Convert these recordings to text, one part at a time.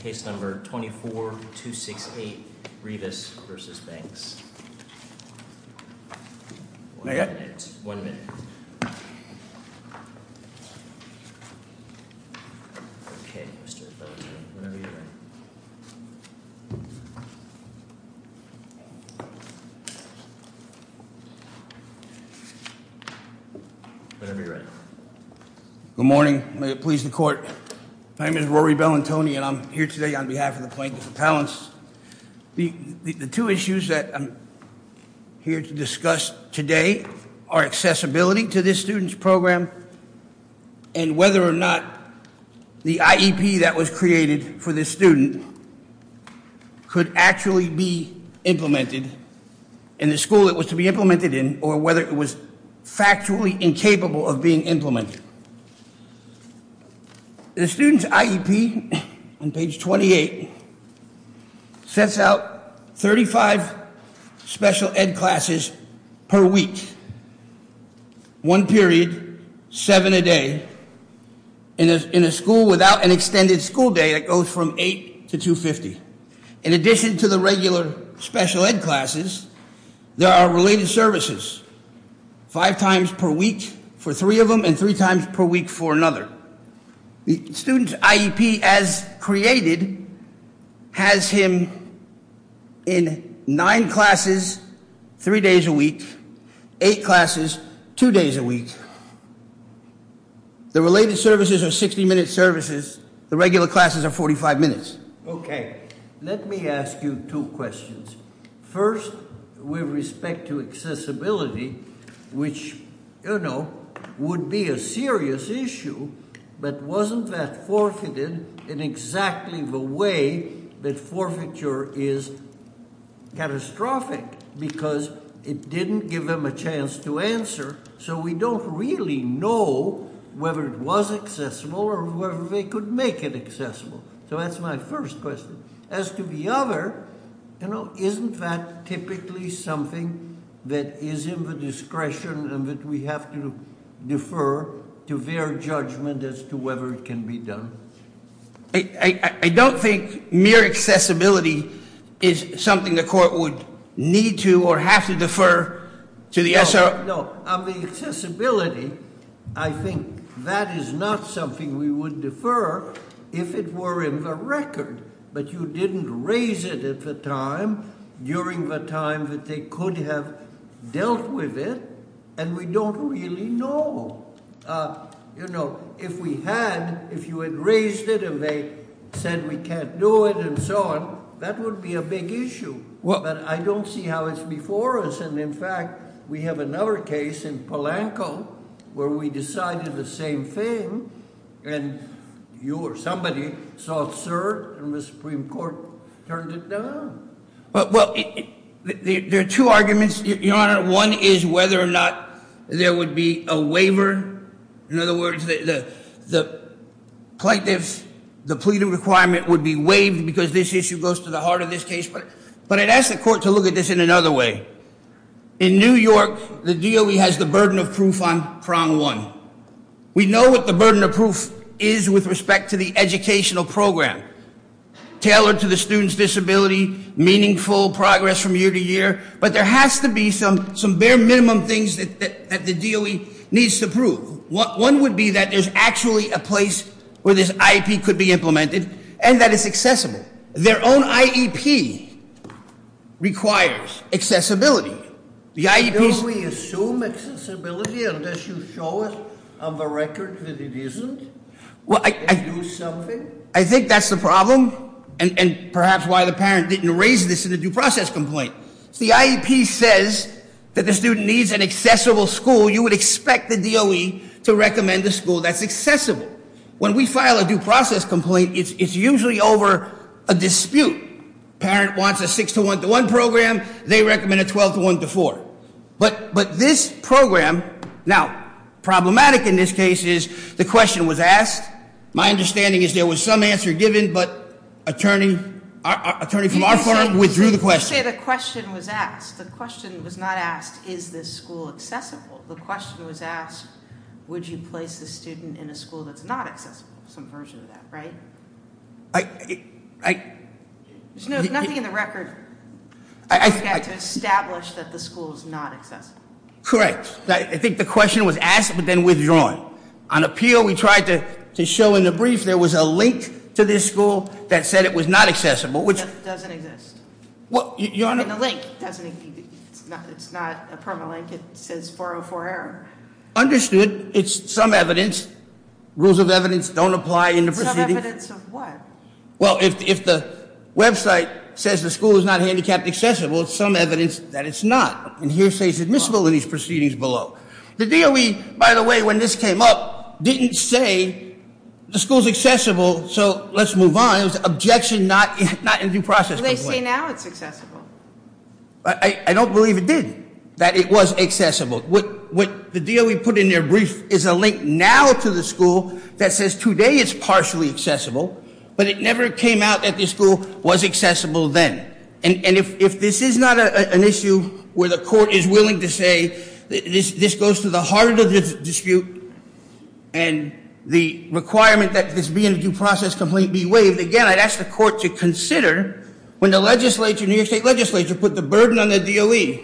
Case number 24268, Rivas v. Banks. One minute. Okay, Mr. Bellantoni. Whenever you're ready. Whenever you're ready. Good morning. May it please the court. My name is Rory Bellantoni and I'm here today on behalf of the plaintiff's appellants. The two issues that I'm here to discuss today are accessibility to this student's program and whether or not the IEP that was created for this student could actually be implemented in the school it was to be implemented in or whether it was factually incapable of being implemented. The student's IEP on page 28 sets out 35 special ed classes per week. One period, seven a day in a school without an extended school day that goes from 8 to 250. In addition to the regular special ed classes, there are related services five times per week for three of them and three times per week for another. The student's IEP as created has him in nine classes three days a week, eight classes two days a week. The related services are 60 minute services. The regular classes are 45 minutes. Okay. Let me ask you two questions. First, with respect to accessibility, which would be a serious issue, but wasn't that forfeited in exactly the way that forfeiture is catastrophic because it didn't give them a chance to answer. We don't really know whether it was accessible or whether they could make it accessible. That's my first question. As to the other, isn't that typically something that is in the discretion that we have to defer to their judgment as to whether it can be done? I don't think mere accessibility is something the court would need to or have to defer to the SRO. Accessibility, I think that is not something we would defer if it were in the record, but you didn't raise it at the time during the time that they could have dealt with it and we don't really know. If we had, if you had raised it and they said we can't do it and so on, that would be a big issue, but I don't see how it's before us. In fact, we have another case in Polanco where we decided the same thing and you or somebody saw it served and the Supreme Court turned it down. There are two arguments, Your Honor. One is whether or not there would be a waiver. In other words, the plaintiff, the pleading requirement would be waived because this issue goes to the heart of this case, but I'd ask the court to look at this in another way. In New York, the DOE has the burden of proof on prong one. We know what the burden of proof is with respect to the educational program, tailored to the student's disability, meaningful progress from year to year, but there has to be some bare minimum things that the DOE needs to prove. One would be that there's actually a place where this IEP could be implemented and that it's accessible. Their own IEP requires accessibility. The IEP's... Do we assume accessibility unless you show it on the record that it isn't? I think that's the problem and perhaps why the parent didn't raise this in the due process complaint. The IEP says that the student needs an accessible school. You would expect the DOE to recommend a school that's accessible. When we file a due process complaint, it's usually over a dispute. Parent wants a 6 to 1 to 1 program. They recommend a 12 to 1 to 4. But this program... Now, problematic in this case is the question was asked. My understanding is there was some answer given, but attorney from our firm withdrew the question. You say the question was asked. The question was not asked, is this school accessible? The question was asked, would you place the student in a school that's not accessible? Some version of that, right? There's nothing in the record to establish that the school's not accessible. Correct. I think the question was asked, but then withdrawn. On appeal, we tried to show in the brief there was a link to this school that said it was not accessible. That doesn't exist. The link doesn't exist. It's not a permalink. It says 404 error. Understood. It's some evidence. Rules of evidence don't apply in the proceedings. Some evidence of what? Well, if the website says the school is not handicapped accessible, it's some evidence that it's not. And here it says it's admissible in these proceedings below. The DOE, by the way, when this came up, didn't say the school's accessible so let's move on. It was an objection, not a due process complaint. They say now it's accessible. I don't believe it did, that it was accessible. The DOE put in their brief is a link now to the school that says today it's partially accessible, but it never came out that the school was accessible then. And if this is not an issue where the court is willing to say this goes to the heart of the dispute and the requirement that this being a due process complaint be waived, again, I'd ask the court to consider when the legislature, New York State legislature, put the burden on the DOE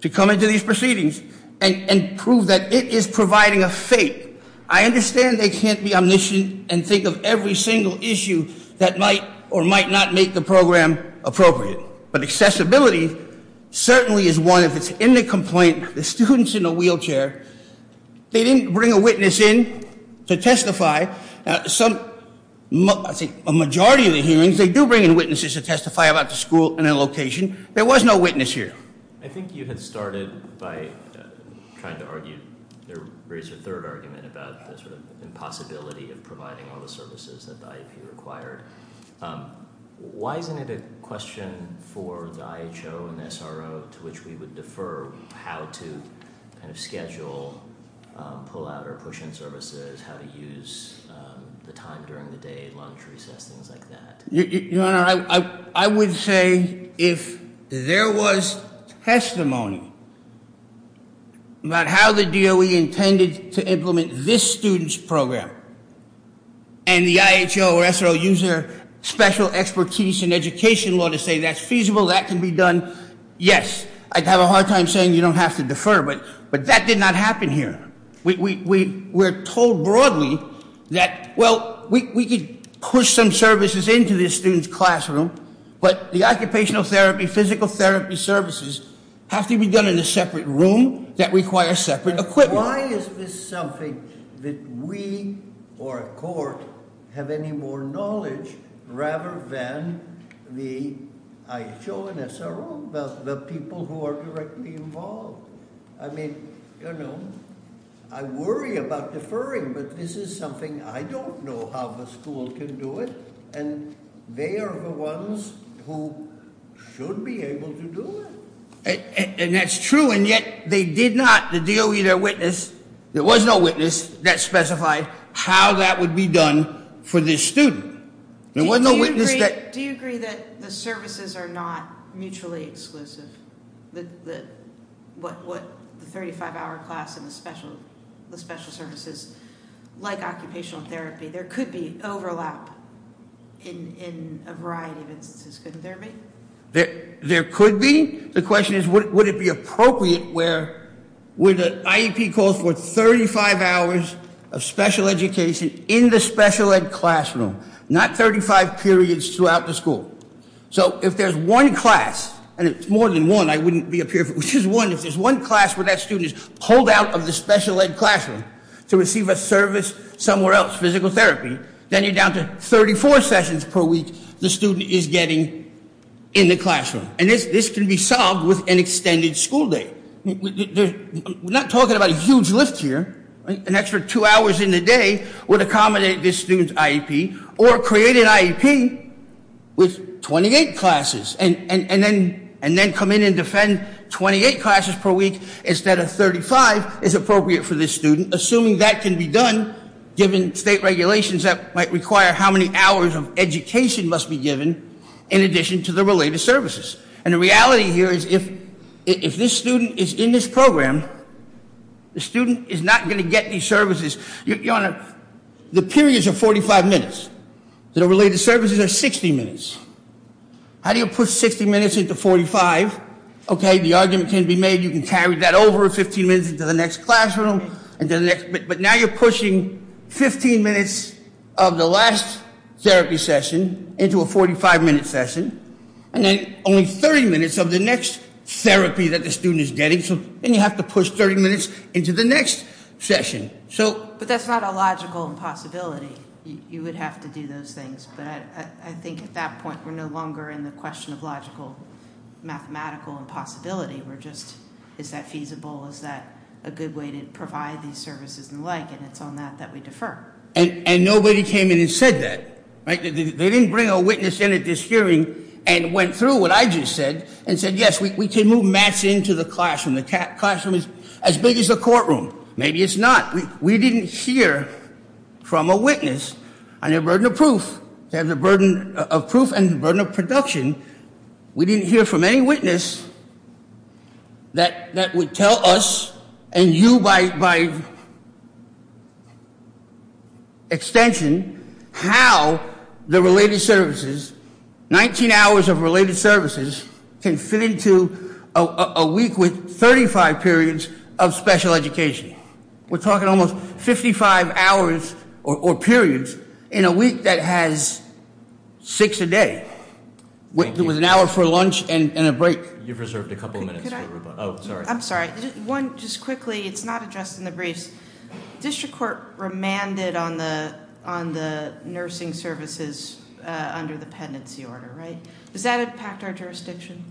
to come into these proceedings and prove that it is providing a fake. I understand they can't be omniscient and think of every single issue that might or might not make the program appropriate. But accessibility certainly is one. If it's in the complaint, the student's in a wheelchair, they didn't bring a witness in to testify. A majority of the hearings they do bring in witnesses to testify about the school and the location. There was no witness here. I think you had started by trying to argue, raise your third argument about the impossibility of providing all the services that the IEP required. Why isn't it a question for the IHO and SRO to which we would defer how to schedule pull out or push in services, how to use the time during the day, lunch, recess, things like that? Your Honor, I would say if there was testimony about how the DOE intended to implement this student's program and the IHO or SRO used their special expertise in education law to say that's feasible, that can be done, yes, I'd have a hard time saying you don't have to defer, but that did not happen here. We're told broadly that, well, we could push some services into this student's classroom, but the occupational therapy, physical therapy services have to be done in a separate room that requires separate equipment. Why is this something that we or a court have any more knowledge rather than the IHO and SRO, the people who are directly involved? I mean, you know, I worry about deferring, but this is something I don't know how the school can do it, and they are the ones who should be able to do it, and that's true, and yet they did not, the DOE, their witness, there was no witness that specified how that would be done for this student. Do you agree that the services are not mutually exclusive? The 35-hour class and the special services, like occupational therapy, there could be overlap in a variety of instances, couldn't there be? There could be. The question is, would it be appropriate where the IEP calls for 35 hours of special education in the special ed classroom, not 35 periods throughout the school? So if there's one class, and it's more than one, I wouldn't be a peer, which is one, if there's one class where that student is pulled out of the special ed classroom to receive a service somewhere else, physical therapy, then you're down to 34 sessions per week the student is getting in the classroom, and this can be solved with an extended school day. We're not talking about a huge lift here, an extra two hours in the day would accommodate this student's IEP, or create an IEP with 28 classes, and then come in and send 28 classes per week instead of 35 is appropriate for this student, assuming that can be done, given state regulations that might require how many hours of education must be given in addition to the related services. And the reality here is if this student is in this program, the student is not going to get these services. Your Honor, the periods are 45 minutes. The related services are 60 minutes. How do you push 60 minutes into 45? Okay, the argument can be made, you can carry that over 15 minutes into the next classroom, but now you're pushing 15 minutes of the last therapy session into a 45 minute session, and then only 30 minutes of the next therapy that the student is getting, so then you have to push 30 minutes into the next session. But that's not a logical impossibility. You would have to do those things, but I think at that point we're no longer in the question of logical, mathematical impossibility. We're just, is that feasible, is that a good way to provide these services and the like, and it's on that that we defer. And nobody came in and said that. They didn't bring a witness in at this hearing and went through what I just said and said, yes, we move mats into the classroom. The classroom is as big as a courtroom. Maybe it's not. We didn't hear from a witness on the burden of proof, the burden of proof and the burden of production. We didn't hear from any witness that would tell us, and you by extension, how the related services, 19 hours of related services can fit into a week with 35 periods of special education. We're talking almost 55 hours or periods in a week that has six a day with an hour for lunch and a break. You've reserved a couple of minutes for Rupa. I'm sorry. One, just quickly, it's not addressed in the briefs. The district court remanded on the nursing services under the pendency order, right? Does that impact our jurisdiction?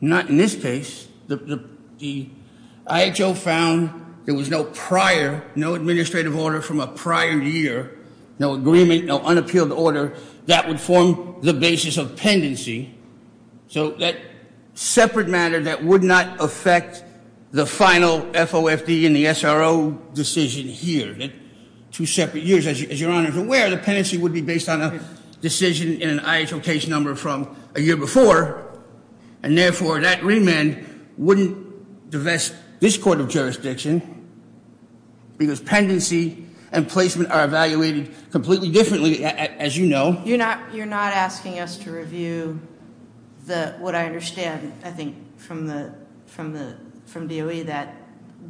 Not in this case. The IHO found there was no prior, no administrative order from a prior year, no agreement, no unappealed order that would form the basis of pendency. So that separate matter that would not affect the final FOFD and the SRO decision here, two separate years. As your Honor is aware, the pendency would be based on a decision in an IHO case number from a year before. And therefore, that remand wouldn't divest this court of jurisdiction because pendency and placement are evaluated completely differently, as you know. You're not asking us to review what I understand, I think, from DOE that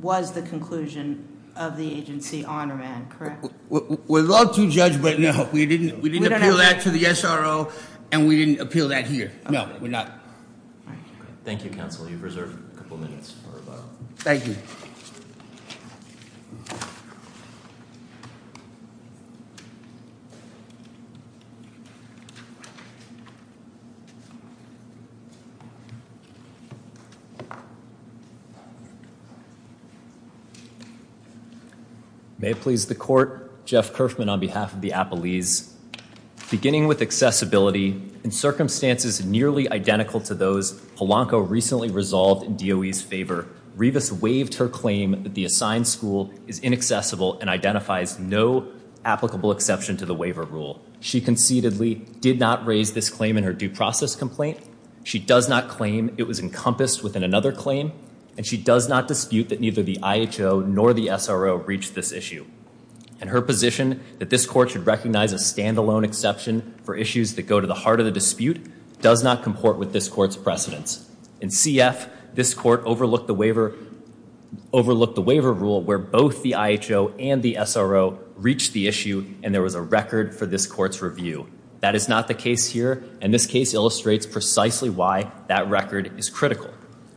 was the conclusion of the agency on remand, correct? We'd love to judge, but no. We didn't appeal that to the SRO and we didn't appeal that here. No, we're not. Thank you, counsel. You've reserved a couple minutes for rebuttal. Thank you. May it please the court, Jeff Kerfman on behalf of the DOE, I'm grateful to those. Polanco recently resolved in DOE's favor. Revis waived her claim that the assigned school is inaccessible and identifies no applicable exception to the waiver rule. She concededly did not raise this claim in her due process complaint. She does not claim it was encompassed within another claim. And she does not dispute that neither the IHO nor the SRO reached this issue. And her position that this court should recognize a standalone exception for issues that go to the heart of the dispute does not comport with this court's precedence. In CF, this court overlooked the waiver rule where both the IHO and the SRO reached the issue and there was a record for this court's review. That is not the case here, and this case illustrates precisely why that record is critical.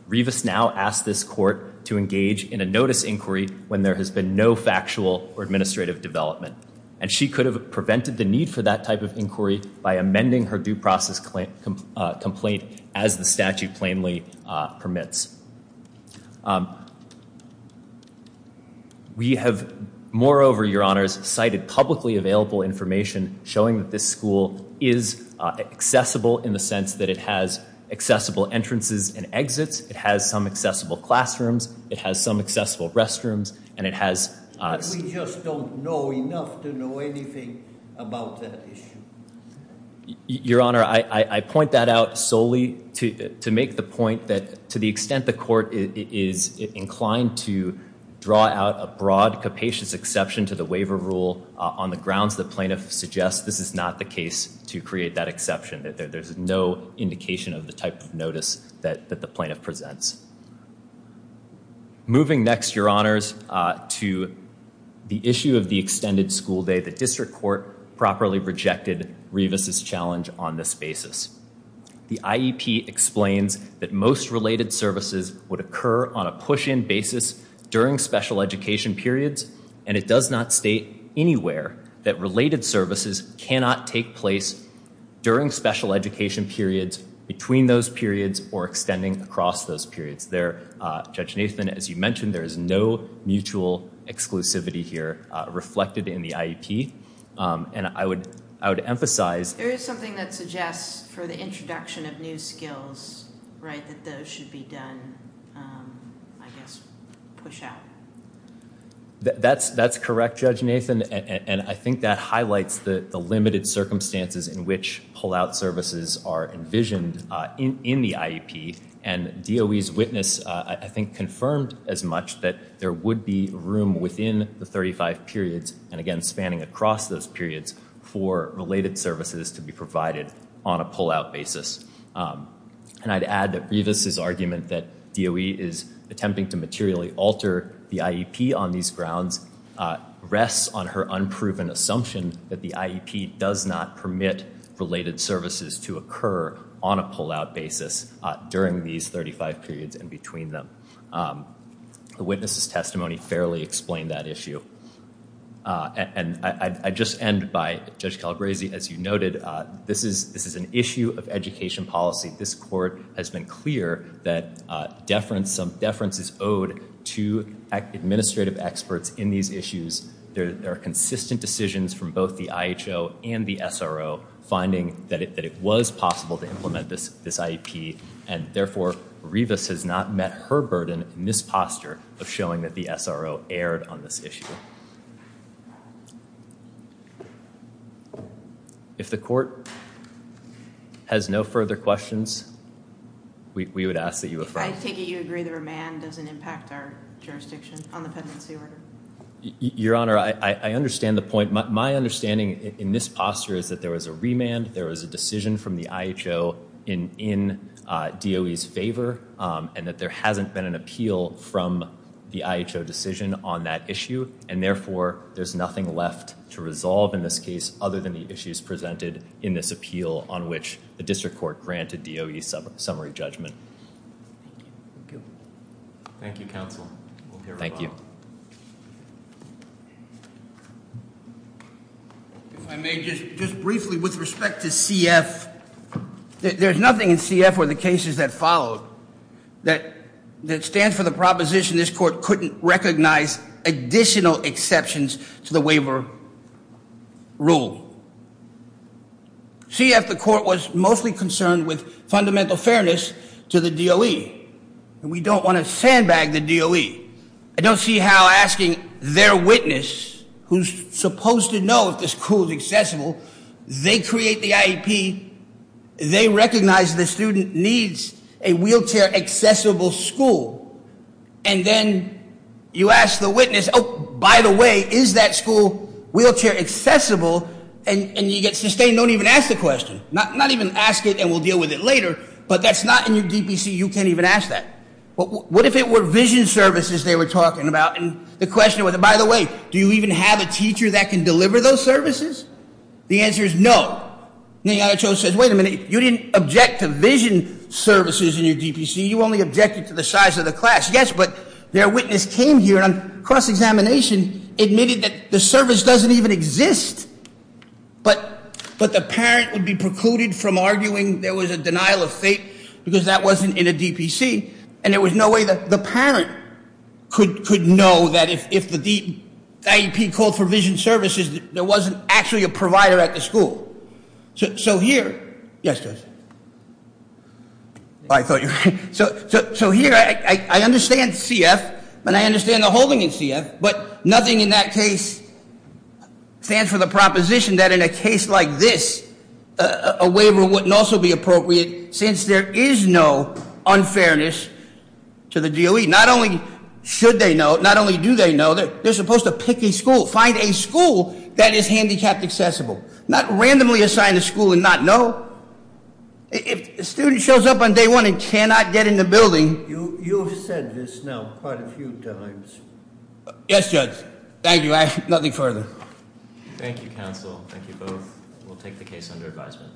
Revis now asks this court to engage in a notice inquiry when there has been no factual or administrative development. And she could have prevented the need for that type of inquiry by amending her due process complaint as the statute plainly permits. We have moreover, Your Honors, cited publicly available information showing that this school is accessible in the sense that it has accessible entrances and exits, it has some accessible classrooms, it has some accessible restrooms, and it has- We just don't know enough to know anything about that issue. Your Honor, I point that out solely to make the point that to the extent the court is inclined to draw out a broad capacious exception to the waiver rule on the grounds the plaintiff suggests, this is not the case to create that exception. There's no indication of the type of notice that the plaintiff presents. Moving next, Your Honors, to the issue of the extended school day. The district court properly rejected Revis' challenge on this basis. The IEP explains that most related services would occur on a school day. The IEP does not say anywhere that related services cannot take place during special education periods, between those periods, or extending across those periods. Judge Nathan, as you mentioned, there is no mutual exclusivity here reflected in the IEP. And I would emphasize- Right, that those should be done, I guess, push out. That's correct, Judge Nathan, and I think that highlights the limited circumstances in which pullout services are envisioned in the IEP. And DOE's witness, I think, confirmed as much that there would be room within the 35 periods, and again, spanning across those periods, for related services to be provided on a pullout basis. And I'd add that Revis' argument that DOE is attempting to materially alter the IEP on these grounds rests on her unproven assumption that the IEP does not permit related services to occur on a pullout basis during these 35 periods and between them. The witness' testimony fairly explained that issue. And I'd just end by, Judge Calabresi, as you noted, this is an issue of education policy. This Court has been clear that some deference is owed to administrative experts in these issues. There are consistent decisions from both the IHO and the SRO finding that it was possible to implement this IEP, and therefore, Revis has not met her burden in this posture of showing that the SRO erred on this issue. If the Court has no further questions, we would ask that you affirm. I take it you agree the remand doesn't impact our jurisdiction on the pendency order? Your Honor, I understand the point. My understanding in this posture is that there was a remand, there was a decision from the IHO in DOE's favor, and that there hasn't been an appeal from the IHO decision on that issue, and therefore, there's nothing left to resolve in this case other than the issues presented in this appeal on which the District Court granted DOE's summary judgment. Thank you, Counsel. Thank you. If I may, just briefly with respect to CF, there's nothing in CF or the cases that followed that stands for the proposition this Court couldn't recognize additional exceptions to the waiver rule. CF, the Court was mostly concerned with fundamental fairness to the DOE, and we don't want to sandbag the DOE. I don't see how asking their witness, who's supposed to know if the school is accessible, they create the IEP, they recognize the student needs a wheelchair accessible school, and then you ask the witness, oh, by the way, is that school wheelchair accessible, and you get sustained, don't even ask the question. Not even ask it and we'll deal with it later, but that's not in your DPC, you can't even ask that. What if it were vision services they were talking about, and the question was, by the way, do you even have a teacher that can deliver those services? The answer is no. And the IHO says, wait a minute, you didn't object to vision services in your DPC, you only objected to the size of the class. Yes, but their witness came here on cross-examination, admitted that the service doesn't even exist, but the parent would be precluded from arguing there was a denial of fate because that wasn't in a DPC, and there was no way that the parent could know that if the IEP called for vision services, there wasn't actually a provider at the school. So here, yes, Judge. So here, I understand CF, and I understand the holding in CF, but nothing in that case stands for the proposition that in a case like this, a waiver wouldn't also be appropriate since there is no unfairness to the DOE. Not only should they know, not only do they know, they're supposed to pick a school, find a school that is handicapped accessible. Not randomly assign a school and not know. If a student shows up on day one and cannot get in the building... You've said this now quite a few times. Yes, Judge. Thank you, I have nothing further. Thank you, counsel. Thank you both. We'll take the case under advisement.